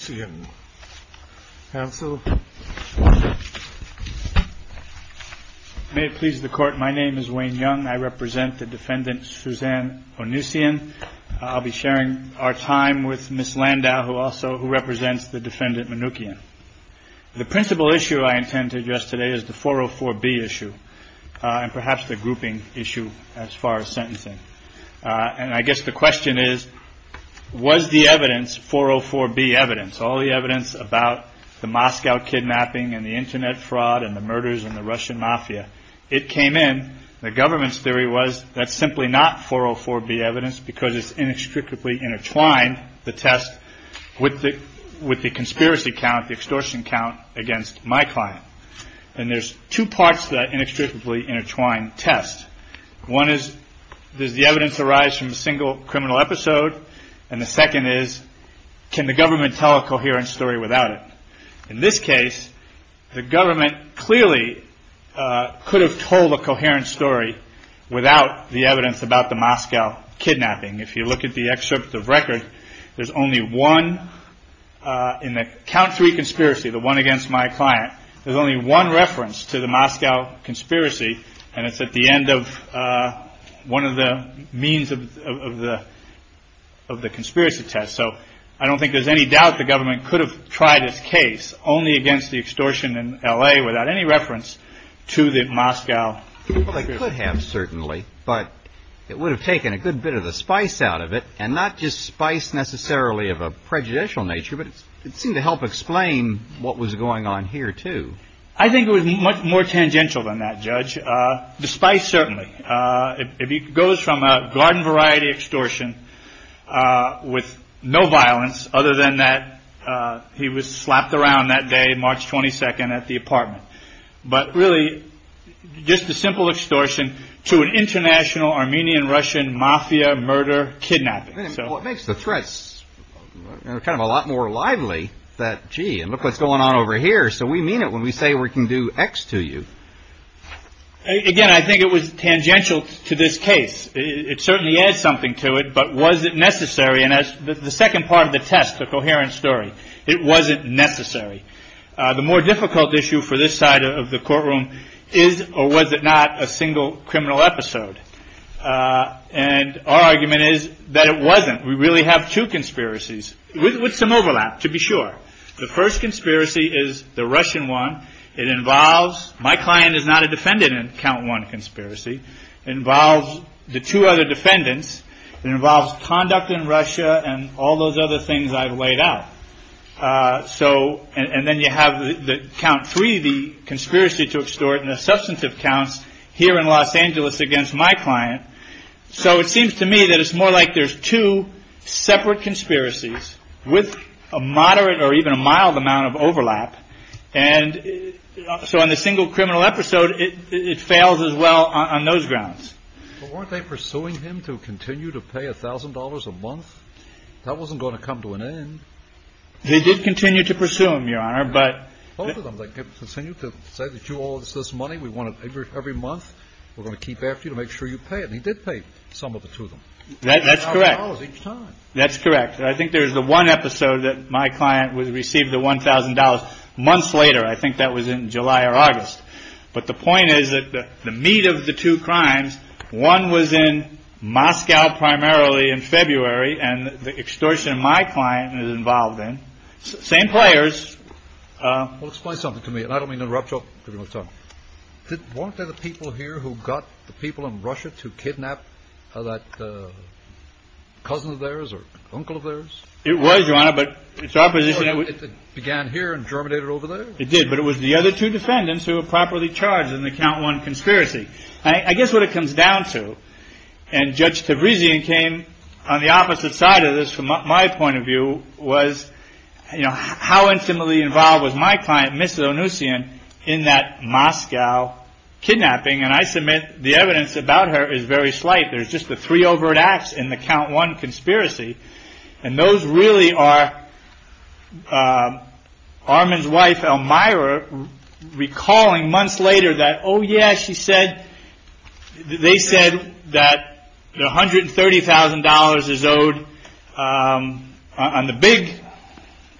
May it please the court, my name is Wayne Young. I represent the defendant Suzanne Onucian. I'll be sharing our time with Ms. Landau, who also represents the defendant Manukyan. The principal issue I intended yesterday is the 404B issue, and perhaps the grouping issue as far as sentencing. And I guess the question is, was the evidence, 404B evidence, all the evidence about the Moscow kidnapping, and the internet fraud, and the murders, and the Russian mafia, it came in, the government's theory was that's simply not 404B evidence because it's inextricably intertwined, the test, with the conspiracy count, the extortion count, against my client. And there's two parts to that inextricably intertwined test. One is, does the evidence arise from a single criminal episode? And the second is, can the government tell a coherent story without it? In this case, the government clearly could have told a coherent story without the evidence about the Moscow kidnapping. If you look at the excerpt of record, there's only one in the count three conspiracy, the one against my client, there's only one reference to the Moscow conspiracy, and it's at the end of one of the means of the conspiracy test. So I don't think there's any doubt the government could have tried this case only against the extortion in L.A. without any reference to the Moscow conspiracy. Well, they could have certainly, but it would have taken a good bit of the spice out of it, and not just spice necessarily of a prejudicial nature, but it seemed to help explain what was going on here, too. I think it was much more tangential than that, Judge, the spice certainly. It goes from a garden variety extortion with no violence, other than that he was slapped around that day, March 22nd, at the apartment. But really, just a simple extortion to an international Armenian-Russian mafia murder kidnapping. Well, it makes the threats kind of a lot more lively that, gee, and look what's going on over here. So we mean it when we say we can do X to you. Again, I think it was tangential to this case. It certainly adds something to it, but was it necessary? And the second part of the test, the coherent story, it wasn't necessary. The more difficult issue for this side of the courtroom is, or was it not, a single criminal episode? And our argument is that it wasn't. We really have two conspiracies with some overlap, to be sure. The first conspiracy is the Russian one. It involves my client is not a defendant in count one conspiracy. It involves the two other defendants. It involves conduct in Russia and all those other things I've laid out. And then you have count three, the conspiracy to extort, and the substantive counts here in Los Angeles against my client. So it seems to me that it's more like there's two separate conspiracies with a moderate or even a mild amount of overlap. And so on the single criminal episode, it fails as well on those grounds. But weren't they pursuing him to continue to pay $1,000 a month? That wasn't going to come to an end. They did continue to pursue him, Your Honor. Both of them continue to say that you owe us this money. We want it every month. We're going to keep after you to make sure you pay it. And he did pay some of the two of them. That's correct. That's correct. I think there's the one episode that my client received the $1,000 months later. I think that was in July or August. But the point is that the meat of the two crimes, one was in Moscow primarily in February, and the extortion of my client is involved in. Same players. Well, explain something to me. And I don't mean to interrupt you. I'll give you one second. Weren't there the people here who got the people in Russia to kidnap that cousin of theirs or uncle of theirs? It was, Your Honor, but it's our position. It began here and germinated over there? It did. But it was the other two defendants who were properly charged in the count one conspiracy. I guess what it comes down to, and Judge Tabrizian came on the opposite side of this from my point of view, was how intimately involved was my client, Mrs. Onusian, in that Moscow kidnapping? And I submit the evidence about her is very slight. There's just the three overt acts in the count one conspiracy. And those really are Armand's wife, Elmira, recalling months later that, oh, yeah, she said. They said that one hundred and thirty thousand dollars is owed on the big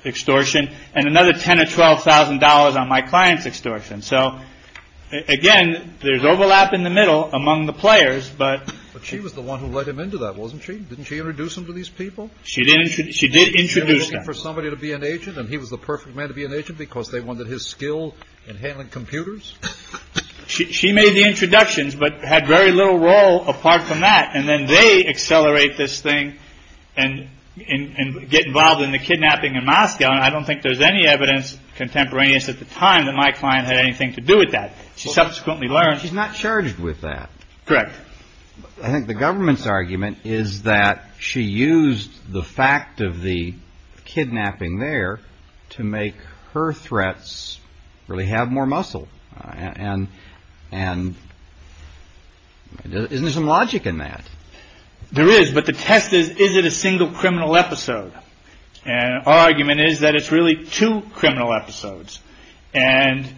extortion and another ten or twelve thousand dollars on my client's extortion. So, again, there's overlap in the middle among the players. But she was the one who led him into that, wasn't she? Didn't she introduce him to these people? She did. She did introduce them. She was looking for somebody to be an agent. And he was the perfect man to be an agent because they wanted his skill in handling computers. She made the introductions but had very little role apart from that. And then they accelerate this thing and get involved in the kidnapping in Moscow. And I don't think there's any evidence contemporaneous at the time that my client had anything to do with that. She subsequently learned. She's not charged with that. Correct. I think the government's argument is that she used the fact of the kidnapping there to make her threats really have more muscle. And isn't there some logic in that? There is. But the test is, is it a single criminal episode? And our argument is that it's really two criminal episodes. And,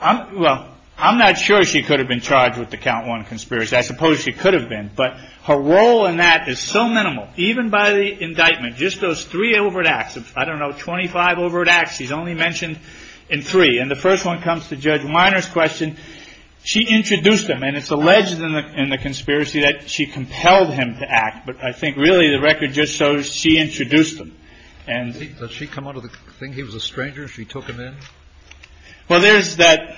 well, I'm not sure she could have been charged with the count one conspiracy. I suppose she could have been. But her role in that is so minimal, even by the indictment. Just those three overt acts. I don't know, 25 overt acts. She's only mentioned in three. And the first one comes to Judge Miner's question. She introduced them. And it's alleged in the conspiracy that she compelled him to act. But I think really the record just shows she introduced them. And did she come out of the thing? He was a stranger. She took him in. Well, there's that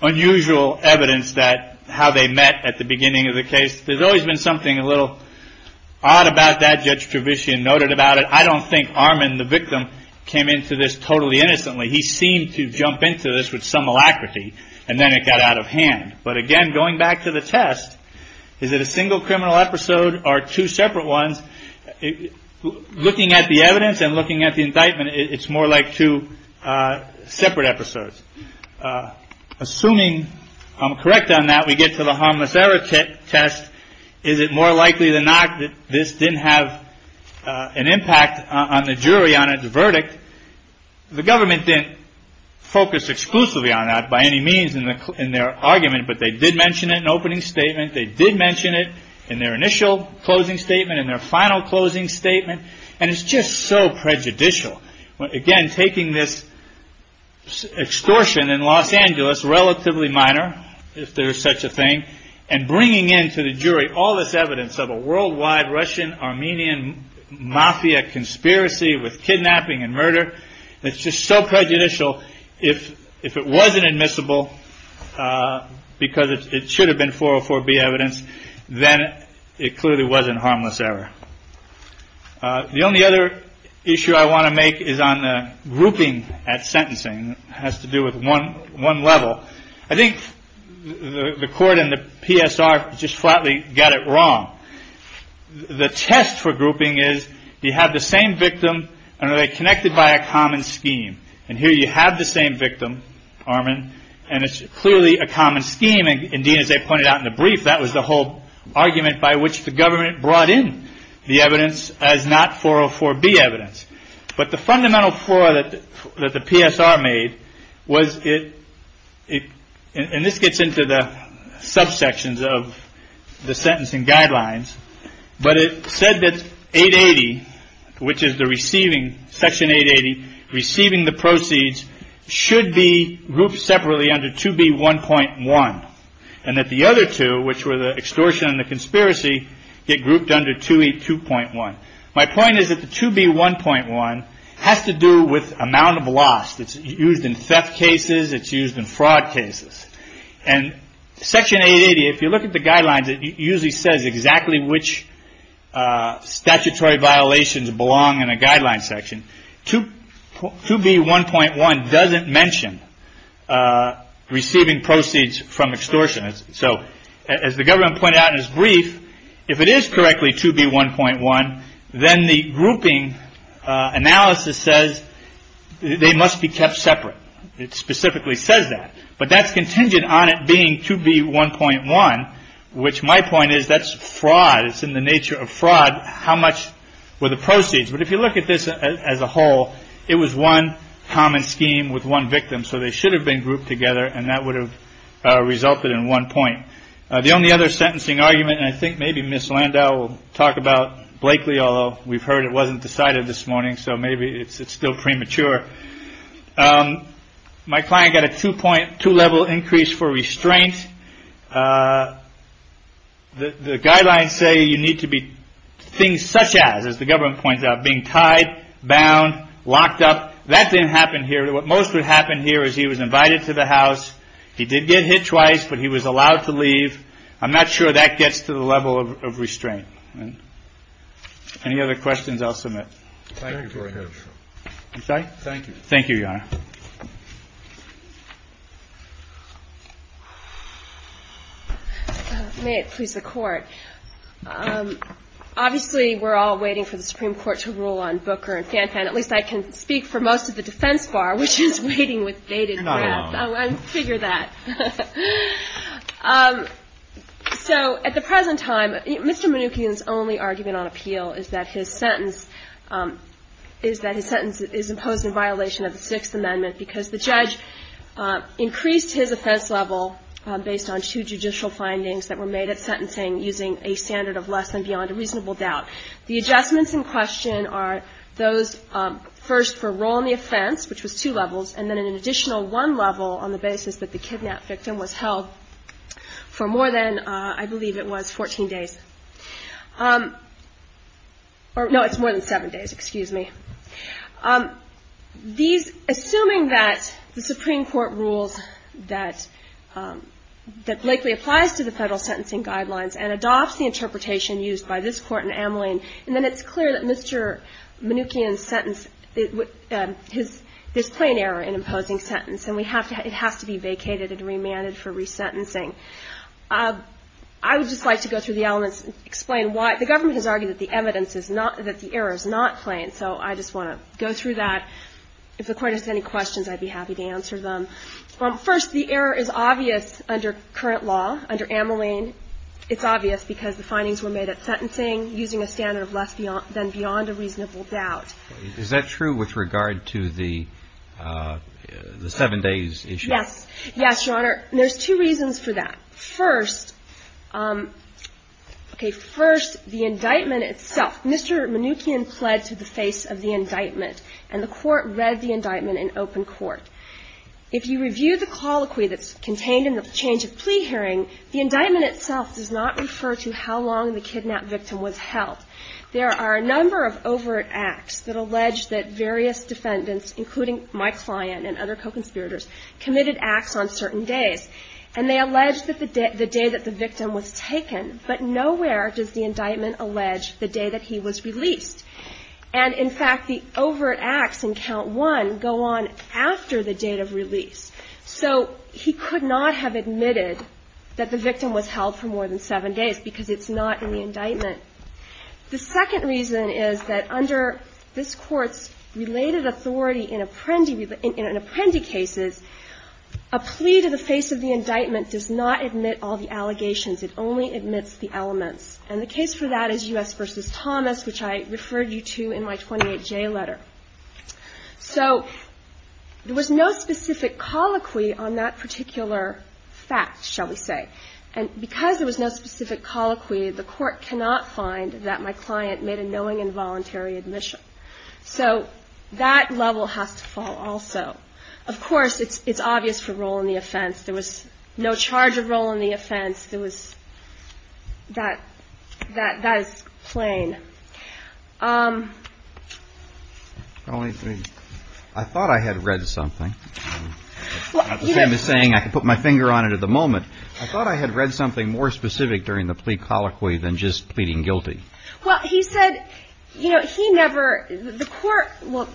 unusual evidence that how they met at the beginning of the case. There's always been something a little odd about that. Judge Trevisan noted about it. I don't think Armand, the victim, came into this totally innocently. He seemed to jump into this with some alacrity. And then it got out of hand. But, again, going back to the test, is it a single criminal episode or two separate ones? Looking at the evidence and looking at the indictment, it's more like two separate episodes. Assuming I'm correct on that, we get to the harmless error test. Is it more likely than not that this didn't have an impact on the jury on its verdict? The government didn't focus exclusively on that by any means in their argument. But they did mention it in opening statement. They did mention it in their initial closing statement, in their final closing statement. And it's just so prejudicial. Again, taking this extortion in Los Angeles, relatively minor if there is such a thing, and bringing in to the jury all this evidence of a worldwide Russian-Armenian mafia conspiracy with kidnapping and murder, it's just so prejudicial if it wasn't admissible because it should have been 404B evidence, then it clearly wasn't harmless error. The only other issue I want to make is on the grouping at sentencing. It has to do with one level. I think the court and the PSR just flatly got it wrong. The test for grouping is, do you have the same victim and are they connected by a common scheme? And here you have the same victim, Armen, and it's clearly a common scheme. Indeed, as they pointed out in the brief, that was the whole argument by which the government brought in the evidence as not 404B evidence. But the fundamental flaw that the PSR made was it, and this gets into the subsections of the sentencing guidelines, but it said that 880, which is the receiving, Section 880, receiving the proceeds, should be grouped separately under 2B1.1. And that the other two, which were the extortion and the conspiracy, get grouped under 2E2.1. My point is that the 2B1.1 has to do with amount of loss. It's used in theft cases. It's used in fraud cases. And Section 880, if you look at the guidelines, it usually says exactly which statutory violations belong in a guideline section. 2B1.1 doesn't mention receiving proceeds from extortion. So as the government pointed out in its brief, if it is correctly 2B1.1, then the grouping analysis says they must be kept separate. It specifically says that. But that's contingent on it being 2B1.1, which my point is that's fraud. It's in the nature of fraud. How much were the proceeds? But if you look at this as a whole, it was one common scheme with one victim. So they should have been grouped together. And that would have resulted in one point. The only other sentencing argument, and I think maybe Miss Landau will talk about Blakely, although we've heard it wasn't decided this morning, so maybe it's still premature. My client got a two point two level increase for restraint. The guidelines say you need to be things such as, as the government points out, being tied, bound, locked up. That didn't happen here. What most would happen here is he was invited to the house. He did get hit twice, but he was allowed to leave. I'm not sure that gets to the level of restraint. Any other questions? I'll submit. Thank you. Thank you. Thank you. May it please the court. Obviously, we're all waiting for the Supreme Court to rule on Booker and Fanfan. At least I can speak for most of the defense bar, which is waiting with bated breath. You're not alone. I figure that. So at the present time, Mr. Mnookin's only argument on appeal is that his sentence is that his sentence is imposed in violation of the Sixth Amendment because the judge increased his offense level based on two judicial findings that were made at sentencing using a standard of less than beyond a reasonable doubt. The adjustments in question are those first for role in the offense, which was two levels, and then an additional one level on the basis that the kidnap victim was held for more than, I believe it was, 14 days. No, it's more than seven days. Excuse me. Assuming that the Supreme Court rules that Blakely applies to the federal sentencing guidelines and adopts the interpretation used by this Court in Ameline, and then it's clear that Mr. Mnookin's sentence, his plain error in imposing sentence, and it has to be vacated and remanded for resentencing. I would just like to go through the elements and explain why. The government has argued that the evidence is not, that the error is not plain. So I just want to go through that. If the Court has any questions, I'd be happy to answer them. First, the error is obvious under current law. Under Ameline, it's obvious because the findings were made at sentencing using a standard of less than beyond a reasonable doubt. Is that true with regard to the seven days issue? Yes. Yes, Your Honor. There's two reasons for that. First, okay, first, the indictment itself. Mr. Mnookin pled to the face of the indictment, and the Court read the indictment in open court. If you review the colloquy that's contained in the change of plea hearing, the indictment itself does not refer to how long the kidnapped victim was held. There are a number of overt acts that allege that various defendants, including my client and other co-conspirators, committed acts on certain days. And they allege that the day that the victim was taken, but nowhere does the indictment allege the day that he was released. And, in fact, the overt acts in count one go on after the date of release. So he could not have admitted that the victim was held for more than seven days because it's not in the indictment. The second reason is that under this Court's related authority in Apprendi cases, a plea to the face of the indictment does not admit all the allegations. It only admits the elements. And the case for that is U.S. v. Thomas, which I referred you to in my 28J letter. So there was no specific colloquy on that particular fact, shall we say. And because there was no specific colloquy, the Court cannot find that my client made a knowing involuntary admission. So that level has to fall also. Of course, it's obvious for role in the offense. There was no charge of role in the offense. There was that is plain. I thought I had read something. I'm not saying I can put my finger on it at the moment. I thought I had read something more specific during the plea colloquy than just pleading guilty. Well, he said, you know, he never the Court, well,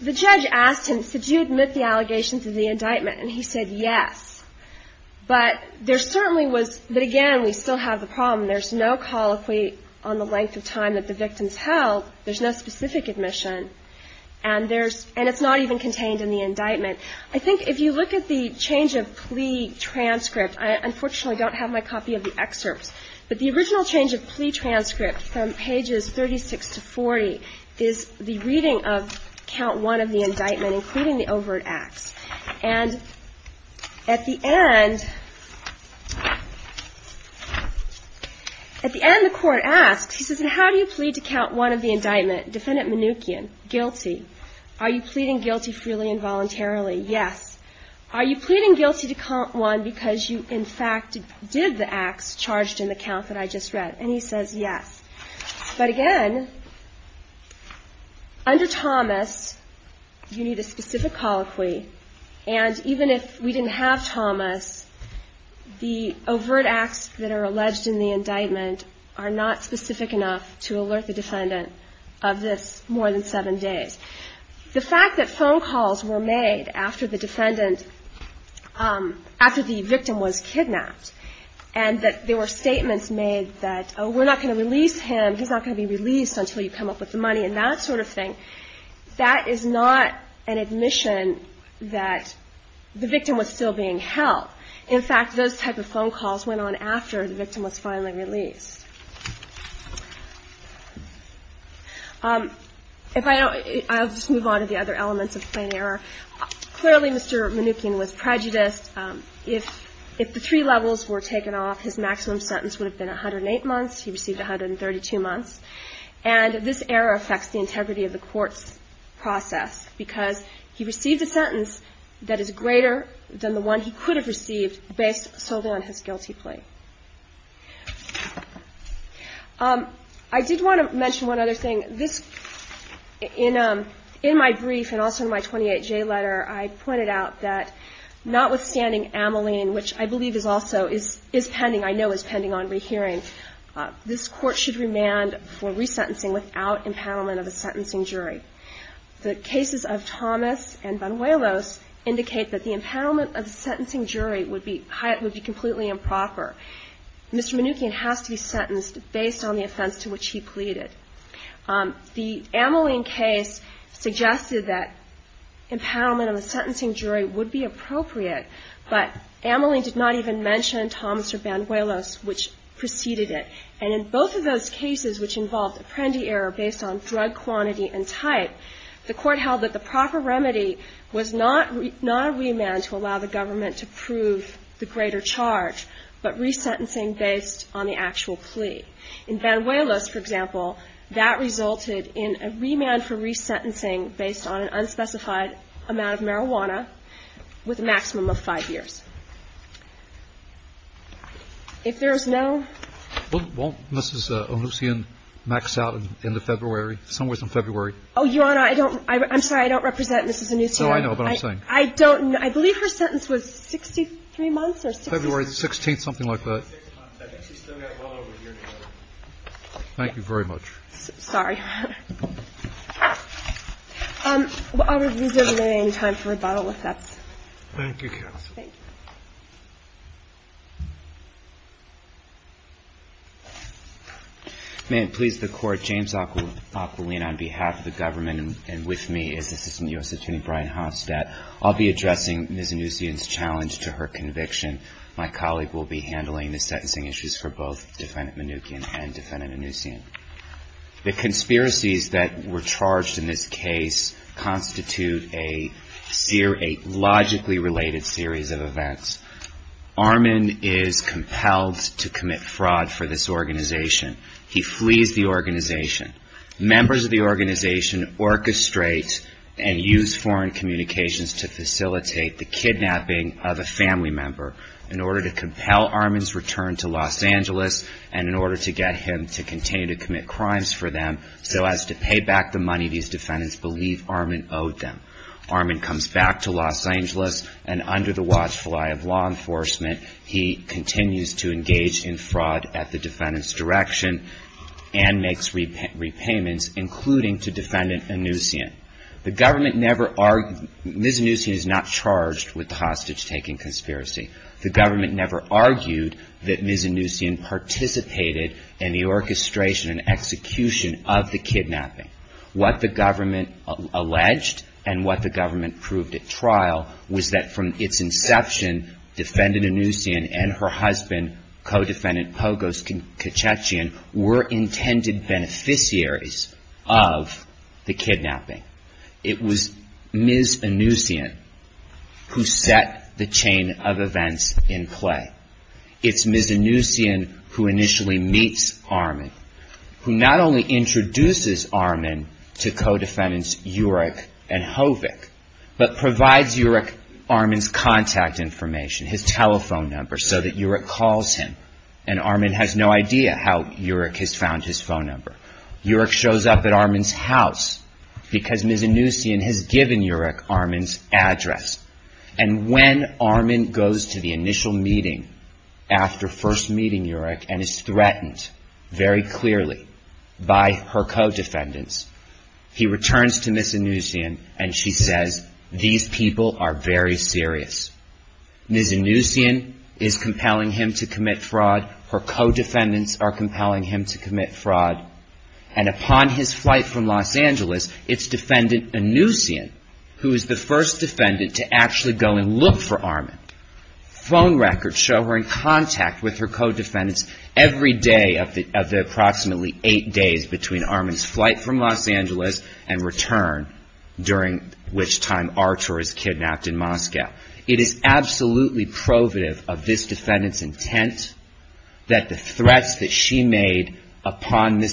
the judge asked him, did you admit the allegations of the indictment? And he said yes. But there certainly was, but again, we still have the problem. There's no colloquy on the length of time that the victim's held. There's no specific admission. And there's, and it's not even contained in the indictment. I think if you look at the change of plea transcript, I unfortunately don't have my copy of the excerpts. But the original change of plea transcript from pages 36 to 40 is the reading of count one of the indictment, including the overt acts. And at the end, at the end, the Court asks, he says, and how do you plead to count one of the indictment? Defendant Mnookin, guilty. Are you pleading guilty freely and voluntarily? Yes. Are you pleading guilty to count one because you, in fact, did the acts charged in the count that I just read? And he says yes. But again, under Thomas, you need a specific colloquy. And even if we didn't have Thomas, the overt acts that are alleged in the indictment are not specific enough to alert the defendant of this more than seven days. The fact that phone calls were made after the defendant, after the victim was kidnapped, and that there were statements made that, oh, we're not going to release him, he's not going to be released until you come up with the money, and that sort of thing, that is not an admission that the victim was still being held. In fact, those type of phone calls went on after the victim was finally released. If I don't, I'll just move on to the other elements of plain error. Clearly, Mr. Mnookin was prejudiced. If the three levels were taken off, his maximum sentence would have been 108 months. He received 132 months. And this error affects the integrity of the court's process because he received a sentence that is greater than the one he could have received based solely on his guilty plea. I did want to mention one other thing. In my brief and also in my 28J letter, I pointed out that notwithstanding Ameline, which I believe is also pending, I know is pending on rehearing, this court should remand for resentencing without empowerment of a sentencing jury. The cases of Thomas and Banuelos indicate that the empowerment of the sentencing jury would be completely improper. Mr. Mnookin has to be sentenced based on the offense to which he pleaded. The Ameline case suggested that empowerment of a sentencing jury would be appropriate, but Ameline did not even mention Thomas or Banuelos, which preceded it. And in both of those cases, which involved Apprendi error based on drug quantity and type, the court held that the proper remedy was not a remand to allow the government to prove the greater charge, but resentencing based on the actual plea. In Banuelos, for example, that resulted in a remand for resentencing based on an unspecified amount of marijuana with a maximum of five years. If there is no ---- Well, won't Mrs. Onucian max out in the February, somewhere in February? Oh, Your Honor, I don't ---- I'm sorry, I don't represent Mrs. Onucian. Oh, I know what I'm saying. I don't ---- I believe her sentence was 63 months or ---- February 16th, something like that. Thank you very much. Sorry, Your Honor. I'll reserve the remaining time for rebuttal if that's ---- Thank you, counsel. Thank you. May it please the Court, James Aquilin on behalf of the government and with me is Assistant U.S. Attorney Brian Hofstadt. I'll be addressing Mrs. Onucian's challenge to her conviction. My colleague will be handling the sentencing issues for both Defendant Mnookin and Defendant Onucian. The conspiracies that were charged in this case constitute a logically related series of events. Armin is compelled to commit fraud for this organization. He flees the organization. Members of the organization orchestrate and use foreign communications to facilitate the kidnapping of a family member. In order to compel Armin's return to Los Angeles and in order to get him to continue to commit crimes for them, so as to pay back the money these defendants believe Armin owed them. Armin comes back to Los Angeles and under the watchful eye of law enforcement, he continues to engage in fraud at the defendant's direction and makes repayments, including to Defendant Onucian. The government never ---- Mrs. Onucian is not charged with the hostage-taking conspiracy. The government never argued that Mrs. Onucian participated in the orchestration and execution of the kidnapping. What the government alleged and what the government proved at trial was that from its inception, Defendant Onucian and her husband, Co-Defendant Pogos Katchetjian, were intended beneficiaries of the kidnapping. It was Mrs. Onucian who set the chain of events in play. It's Mrs. Onucian who initially meets Armin, who not only introduces Armin to Co-Defendants Urik and Hovik, but provides Urik Armin's contact information, his telephone number, so that Urik calls him. And Armin has no idea how Urik has found his phone number. Urik shows up at Armin's house because Mrs. Onucian has given Urik Armin's address. And when Armin goes to the initial meeting after first meeting Urik and is threatened very clearly by her Co-Defendants, he returns to Mrs. Onucian and she says, these people are very serious. Mrs. Onucian is compelling him to commit fraud. Her Co-Defendants are compelling him to commit fraud. And upon his flight from Los Angeles, it's Defendant Onucian who is the first defendant to actually go and look for Armin. Phone records show her in contact with her Co-Defendants every day of the approximately eight days between Armin's flight from Los Angeles and return, during which time Archer is kidnapped in Moscow. It is absolutely provative of this Defendant's intent that the threats that she made upon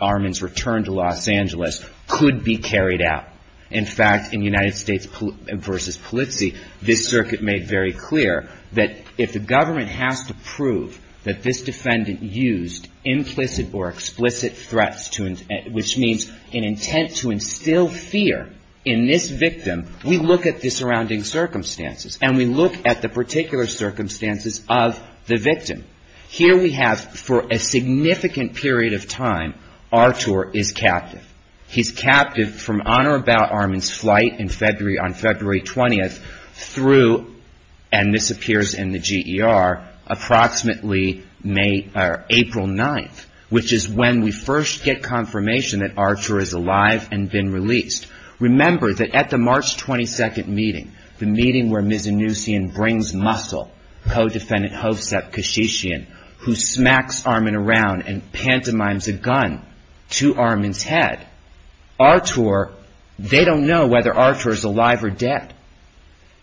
Armin's return to Los Angeles could be carried out. In fact, in United States v. Polizzi, this circuit made very clear that if the government has to prove that this Defendant used implicit or explicit threats, which means an intent to instill fear in this victim, we look at the surrounding circumstances. And we look at the particular circumstances of the victim. Here we have, for a significant period of time, Archer is captive. He's captive from on or about Armin's flight on February 20th through, and this appears in the GER, approximately April 9th, which is when we first get confirmation that Archer is alive and been released. Remember that at the March 22nd meeting, the meeting where Mizinusian brings Muscle, Co-Defendant Hovsep Kashishian, who smacks Armin around and pantomimes a gun to Armin's head, they don't know whether Archer is alive or dead.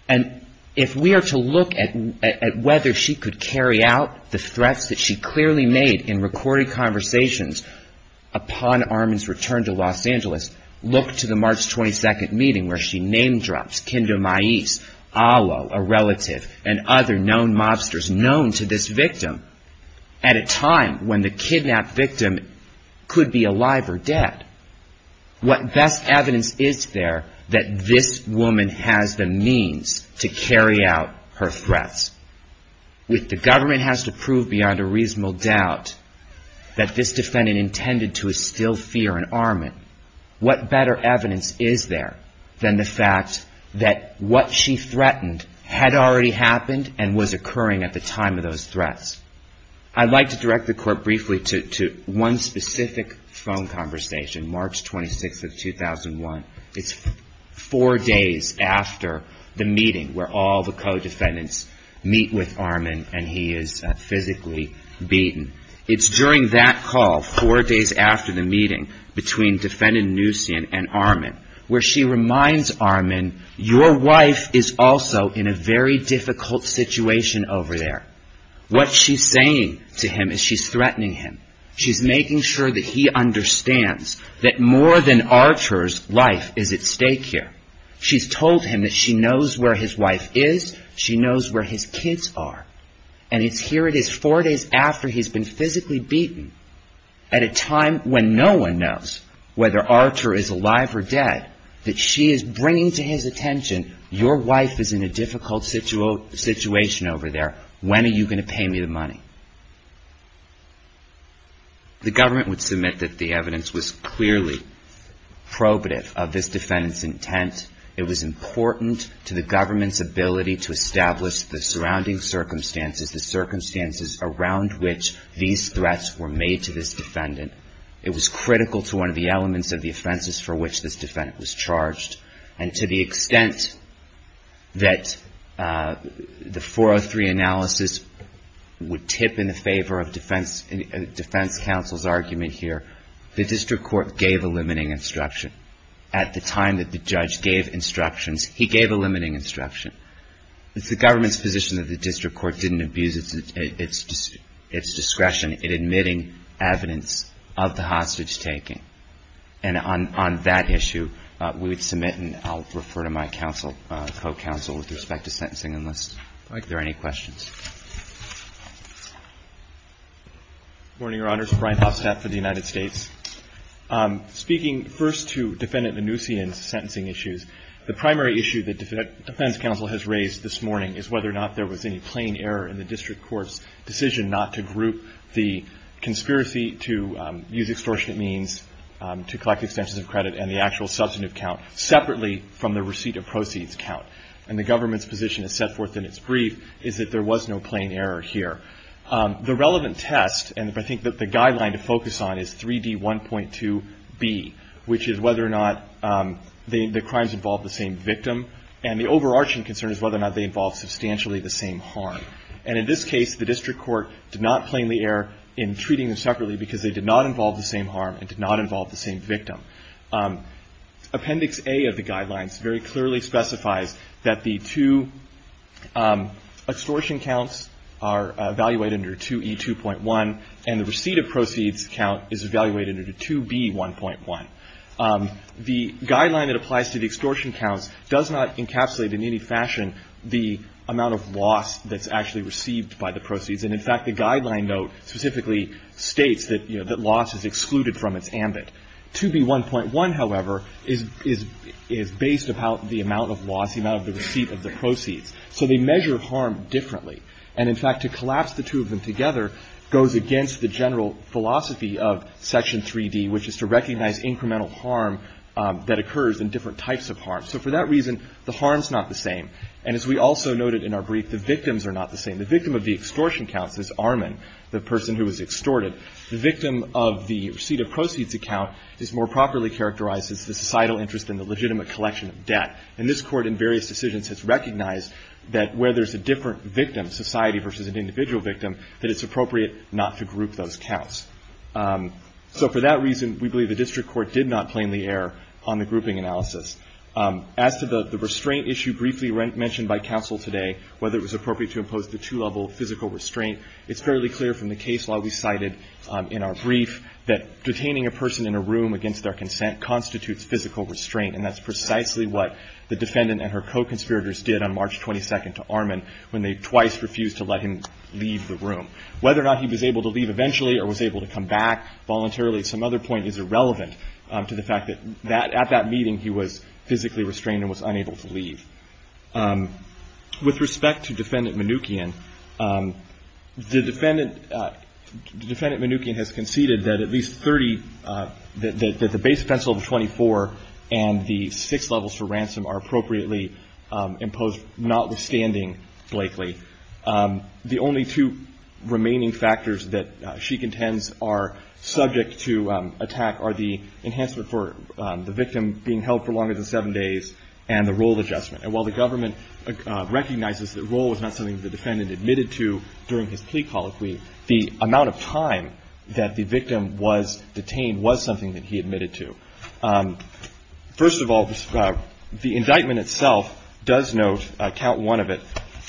And if we are to look at whether she could carry out the threats that she clearly made in recorded conversations upon Armin's return to Los Angeles, look to the March 22nd meeting. Where she name-drops Kindomais, Alo, a relative, and other known mobsters known to this victim at a time when the kidnapped victim could be alive or dead. What best evidence is there that this woman has the means to carry out her threats? If the government has to prove beyond a reasonable doubt that this Defendant intended to instill fear in Armin, what better evidence is there that this woman has the means to carry out her threats? If the government has to prove beyond a reasonable doubt that this Defendant intended to instill fear in Armin, what better evidence is there than the fact that what she threatened had already happened and was occurring at the time of those threats? I'd like to direct the Court briefly to one specific phone conversation, March 26th of 2001. It's four days after the meeting where all the Co-Defendants meet with Armin and he is physically beaten. It's during that call, four days after the meeting between Defendant Nusian and Armin, where she reminds Armin, your wife is also in a very difficult situation over there. What she's saying to him is she's threatening him. She's making sure that he understands that more than Archer's life is at stake here. She's told him that she knows where his wife is. She knows where his kids are. And it's here it is, four days after he's been physically beaten, at a time when no one knows whether Archer is alive or dead, that she is bringing to his attention, your wife is in a difficult situation over there. When are you going to pay me the money? The Government would submit that the evidence was clearly probative of this Defendant's intent. It was important to the Government's ability to establish the surrounding circumstances, the circumstances around which these threats were made to this Defendant. It was critical to one of the elements of the offenses for which this Defendant was charged. And to the extent that the 403 analysis would tip in the favor of Defense Counsel's argument here, the District Court gave a limiting instruction. At the time that the judge gave instructions, he gave a limiting instruction. It's the Government's position that the District Court didn't abuse its discretion in admitting evidence of the hostage-taking. And on that issue, we would submit, and I'll refer to my counsel, co-counsel, with respect to sentencing, unless there are any questions. Good morning, Your Honors. Brian Hofstadt for the United States. Speaking first to Defendant Mnuchin's sentencing issues, the primary issue that Defense Counsel has raised this morning is whether or not there was any plain error in the District Court's decision not to group the conspiracy to use extortionate means, to collect extensions of credit and the actual substantive count, separately from the receipt of proceeds count. And the Government's position is set forth in its brief is that there was no plain error here. The relevant test, and I think that the guideline to focus on, is 3D1.2b, which is whether or not the crimes involve the same victim. And the overarching concern is whether or not they involve substantially the same harm. And in this case, the District Court did not plainly err in treating them separately because they did not involve the same harm and did not involve the same victim. Appendix A of the guidelines very clearly specifies that the two extortion counts are evaluated under 2E2.1, and the receipt of proceeds count is evaluated under 2B1.1. The guideline that applies to the extortion counts does not encapsulate in any fashion the amount of loss that's actually incurred. The amount of loss that's actually received by the proceeds. And, in fact, the guideline note specifically states that, you know, that loss is excluded from its ambit. 2B1.1, however, is based upon the amount of loss, the amount of the receipt of the proceeds. So they measure harm differently. And, in fact, to collapse the two of them together goes against the general philosophy of Section 3D, which is to recognize incremental harm that occurs in different types of harm. So for that reason, the harm's not the same. And as we also noted in our brief, the victims are not the same. The victim of the extortion counts is Arman, the person who was extorted. The victim of the receipt of proceeds account is more properly characterized as the societal interest in the legitimate collection of debt. And this Court in various decisions has recognized that where there's a different victim, society versus an individual victim, that it's appropriate not to group those counts. As to the restraint issue briefly mentioned by counsel today, whether it was appropriate to impose the two-level physical restraint, it's fairly clear from the case law we cited in our brief that detaining a person in a room against their consent constitutes physical restraint. And that's precisely what the defendant and her co-conspirators did on March 22nd to Arman when they twice refused to let him leave the room. Whether or not he was able to leave eventually or was able to come back voluntarily at some other point is irrelevant to the fact that at that meeting he was physically restrained and was unable to leave. With respect to Defendant Mnookin, the defendant, the defendant Mnookin has conceded that at least 30, that the base offense level 24 and the six levels for ransom are appropriately imposed, notwithstanding Blakely. The only two remaining factors that she contends are subject to attack are the enhancement for the victim being able to be held for longer than seven days and the role of adjustment. And while the government recognizes that role was not something the defendant admitted to during his plea colloquy, the amount of time that the victim was detained was something that he admitted to. First of all, the indictment itself does note, count one of it,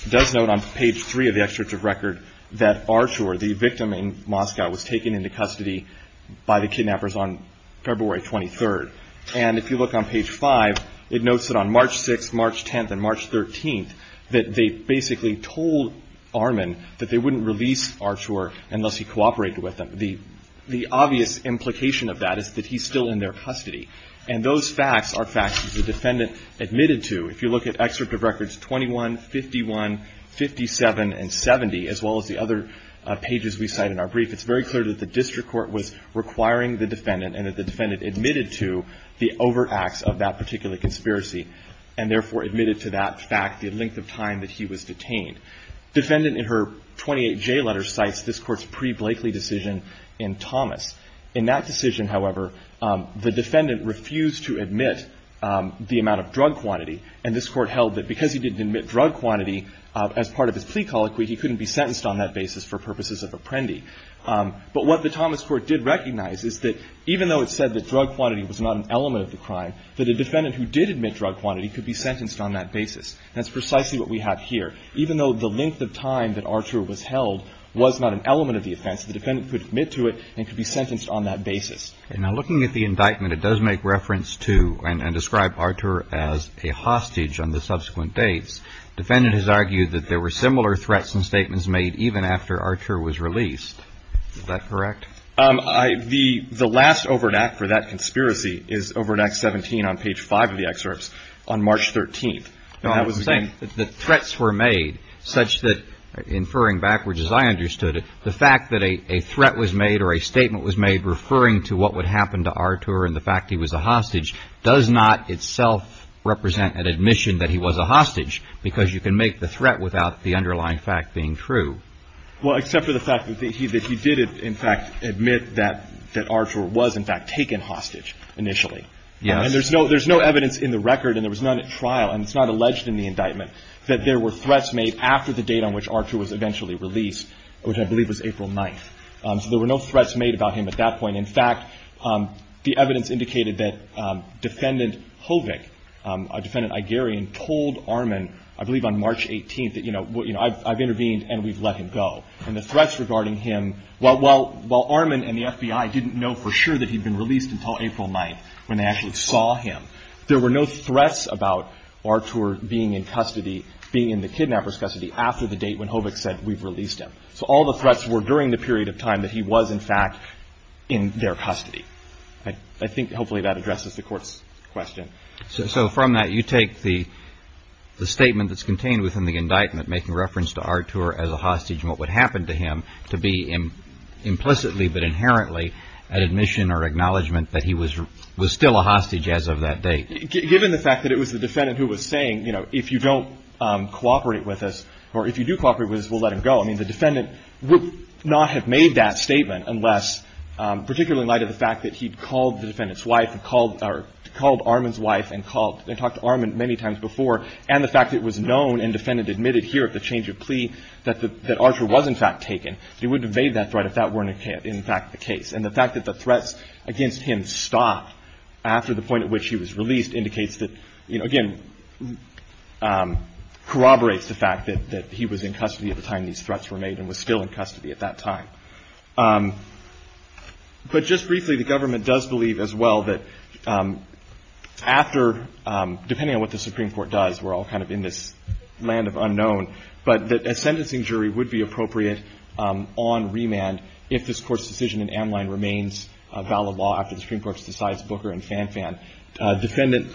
does note on page three of the extract of record that Arshour, the victim in Moscow, was taken into custody by the kidnappers on February 23rd. And if you look on page five, it notes that on March 6th, March 10th and March 13th that they basically told Armin that they wouldn't release Arshour unless he cooperated with them. The obvious implication of that is that he's still in their custody. And those facts are facts that the defendant admitted to. If you look at excerpt of records 21, 51, 57 and 70, as well as the other pages we cite in our brief, it's very clear that the district court was requiring the defendant and that the defendant admitted to the overacts of that particular conspiracy and therefore admitted to that fact the length of time that he was detained. Defendant in her 28J letter cites this Court's pre-Blakely decision in Thomas. In that decision, however, the defendant refused to admit the amount of drug quantity, and this Court held that because he didn't admit drug quantity as part of his plea colloquy, he couldn't be sentenced on that basis for purposes of apprendi. But what the Thomas Court did recognize is that even though it said that drug quantity was not an element of the crime, that a defendant who did admit drug quantity could be sentenced on that basis. That's precisely what we have here. Even though the length of time that Archer was held was not an element of the offense, the defendant could admit to it and could be sentenced on that basis. Now, looking at the indictment, it does make reference to and describe Archer as a hostage on the subsequent dates. Defendant has argued that there were similar threats and statements made even after Archer was released. Is that correct? The last overact for that conspiracy is over in Act 17 on page 5 of the excerpts on March 13th. The threats were made such that, inferring backwards as I understood it, the fact that a threat was made or a statement was made referring to what would happen to Archer and the fact he was a hostage does not itself represent an admission that he was a hostage because you can make the threat without the underlying fact being true. Well, except for the fact that he did, in fact, admit that Archer was, in fact, taken hostage initially. And there's no evidence in the record, and there was none at trial, and it's not alleged in the indictment that there were threats made after the date on which Archer was eventually released, which I believe was April 9th. So there were no threats made about him at that point. In fact, the evidence indicated that Defendant Hovick, a defendant Igerian, told Armin, I believe on March 18th, that, you know, I've intervened and we've let him go. And the threats regarding him, while Armin and the FBI didn't know for sure that he'd been released until April 9th when they actually saw him, there were no threats about Archer being in custody, being in the kidnapper's custody after the date when Hovick said, we've released him. So all the threats were during the period of time that he was, in fact, in their custody. I think hopefully that addresses the Court's question. So from that, you take the statement that's contained within the indictment making reference to Archer as a hostage and what would happen to him to be implicitly but inherently an admission or acknowledgement that he was still a hostage as of that date. Given the fact that it was the defendant who was saying, you know, if you don't cooperate with us or if you do cooperate with us, we'll let him go. I mean, the defendant would not have made that statement unless, particularly in light of the fact that he'd called the defendant's wife and called Armin's wife and called and talked to Armin many times before, and the fact that it was known and the defendant admitted here at the change of plea that Archer was, in fact, taken. He wouldn't have made that threat if that weren't, in fact, the case. And the fact that the threats against him stopped after the point at which he was released indicates that, again, corroborates the fact that he was in custody at the time these threats were made and was still in custody at that time. But just briefly, the government does believe as well that after, depending on what the Supreme Court does, we're all kind of in this land of unknown, but that a sentencing jury would be appropriate on remand if this Court's decision in Amline remains a valid law after the Supreme Court decides Booker and Fanfan. Defendant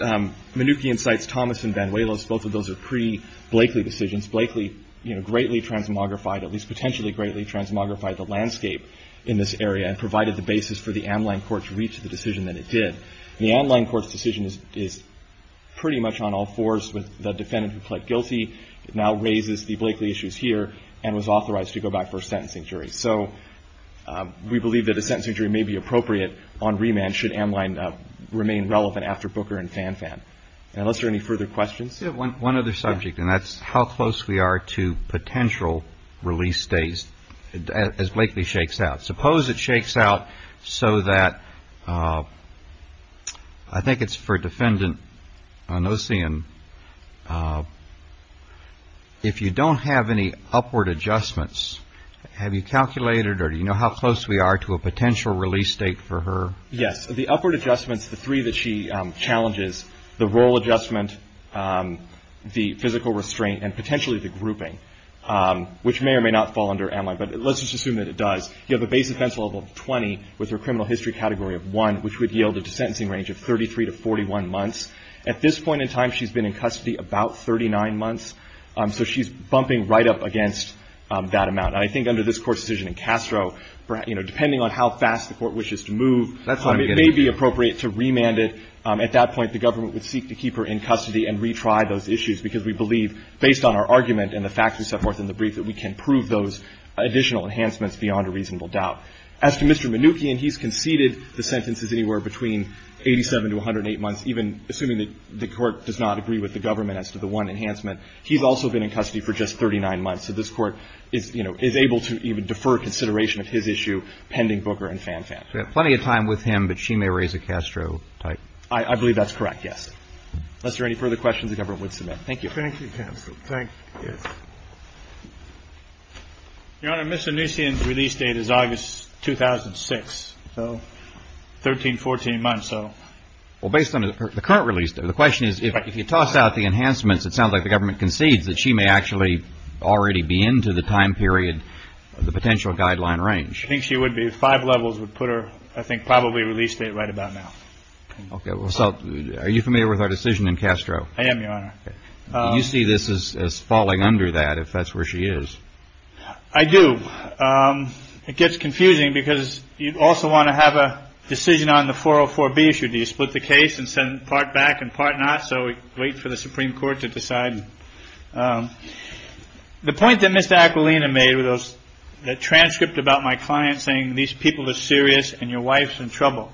Mnookin cites Thomas and Van Willis. Both of those are pre-Blakely decisions. Blakely, you know, greatly transmogrified, at least potentially greatly transmogrified the landscape in this area and provided the basis for the Amline court to reach the decision that it did. The Amline court's decision is pretty much on all fours with the defendant who pled guilty. It now raises the Blakely issues here and was authorized to go back for a sentencing jury. So we believe that a sentencing jury may be appropriate on remand should Amline remain relevant after Booker and Fanfan. Unless there are any further questions. One other subject, and that's how close we are to potential release days as Blakely shakes out. Suppose it shakes out so that I think it's for Defendant Onosian. If you don't have any upward adjustments, have you calculated or do you know how close we are to a potential release date for her? Yes. The upward adjustments, the three that she challenges, the role adjustment, the physical restraint and potentially the grouping, which may or may not fall under Amline, but let's just assume that it does. You have a base offense level of 20 with her criminal history category of 1, which would yield a sentencing range of 33 to 41 months. At this point in time, she's been in custody about 39 months, so she's bumping right up against that amount. And I think under this Court's decision in Castro, you know, depending on how fast the Court wishes to move, it may be appropriate to remand it. At that point, the government would seek to keep her in custody and retry those issues because we believe, based on our argument and the facts we set forth in the brief, that we can prove those additional enhancements beyond a reasonable doubt. As to Mr. Mnookin, he's conceded the sentences anywhere between 87 to 108 months, even assuming that the Court does not agree with the government as to the one enhancement. He's also been in custody for just 39 months. So this Court is, you know, is able to even defer consideration of his issue pending Booker and Fanfan. We have plenty of time with him, but she may raise a Castro type. I believe that's correct, yes. Unless there are any further questions, the government would submit. Thank you. Thank you, counsel. Thank you. Your Honor, Ms. Onucian's release date is August 2006, so 13, 14 months. Well, based on the current release date, the question is, if you toss out the enhancements, it sounds like the government concedes that she may actually already be into the time period of the potential guideline range. I think she would be. Five levels would put her, I think, probably release date right about now. Okay. Well, so are you familiar with our decision in Castro? I am, Your Honor. Okay. Do you see this as falling under that if that's where she is? I do. It gets confusing because you'd also want to have a decision on the 404B issue. Do you split the case and send part back and part not? So we wait for the Supreme Court to decide. The point that Mr. Aquilina made with the transcript about my client saying, these people are serious and your wife's in trouble.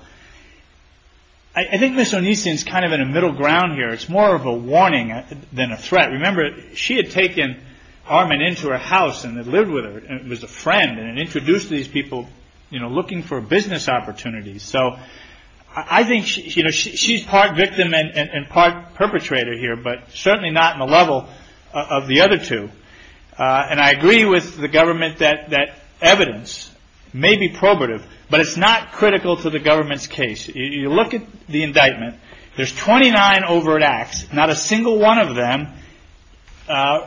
I think Ms. Onucian's kind of in the middle ground here. It's more of a warning than a threat. Remember, she had taken Armand into her house and had lived with her and was a friend and introduced these people looking for business opportunities. So I think she's part victim and part perpetrator here, but certainly not in the level of the other two. And I agree with the government that evidence may be probative, but it's not critical to the government's case. You look at the indictment. There's 29 overt acts. Not a single one of them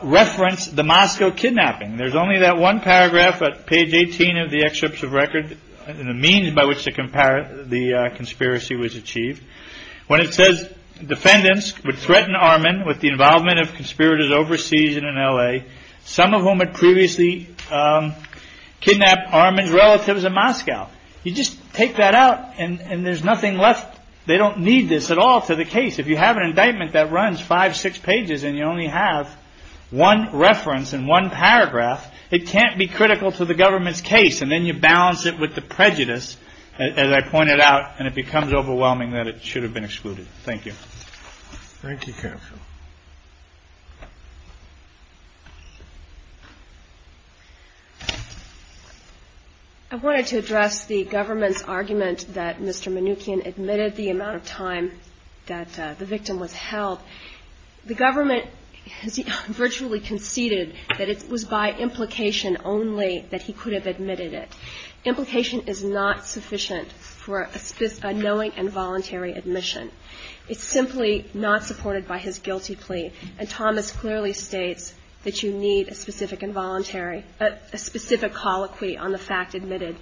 reference the Moscow kidnapping. There's only that one paragraph at page 18 of the excerpts of record and the means by which the conspiracy was achieved. When it says defendants would threaten Armand with the involvement of conspirators overseas and in L.A., some of whom had previously kidnapped Armand's relatives in Moscow. You just take that out and there's nothing left. They don't need this at all to the case. If you have an indictment that runs five, six pages and you only have one reference and one paragraph, it can't be critical to the government's case. And then you balance it with the prejudice, as I pointed out, and it becomes overwhelming that it should have been excluded. Thank you. Thank you, counsel. I wanted to address the government's argument that Mr. Manoukian admitted the amount of time that the victim was held. The government has virtually conceded that it was by implication only that he could have admitted it. Implication is not sufficient for a knowing and voluntary admission. It's simply not supported by his guilty plea. And Thomas clearly states that you need a specific involuntary, a specific colloquy on the fact admitted.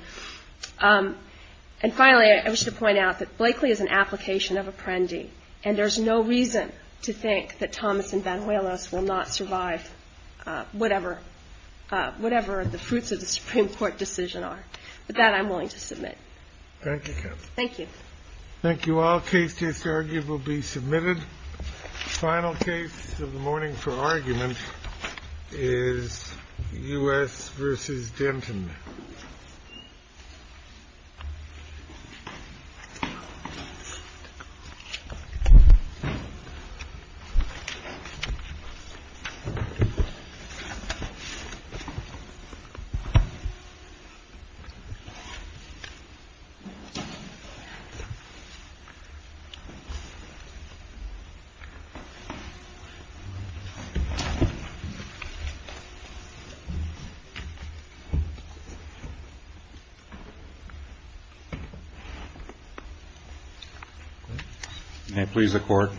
And finally, I wish to point out that Blakely is an application of apprendi, and there's no reason to think that Thomas and Banuelos will not survive whatever the fruits of the Supreme Court decision are. But that I'm willing to submit. Thank you, counsel. Thank you. Thank you. All cases argued will be submitted. Final case of the morning for argument is U.S. versus Denton. May it please the Court.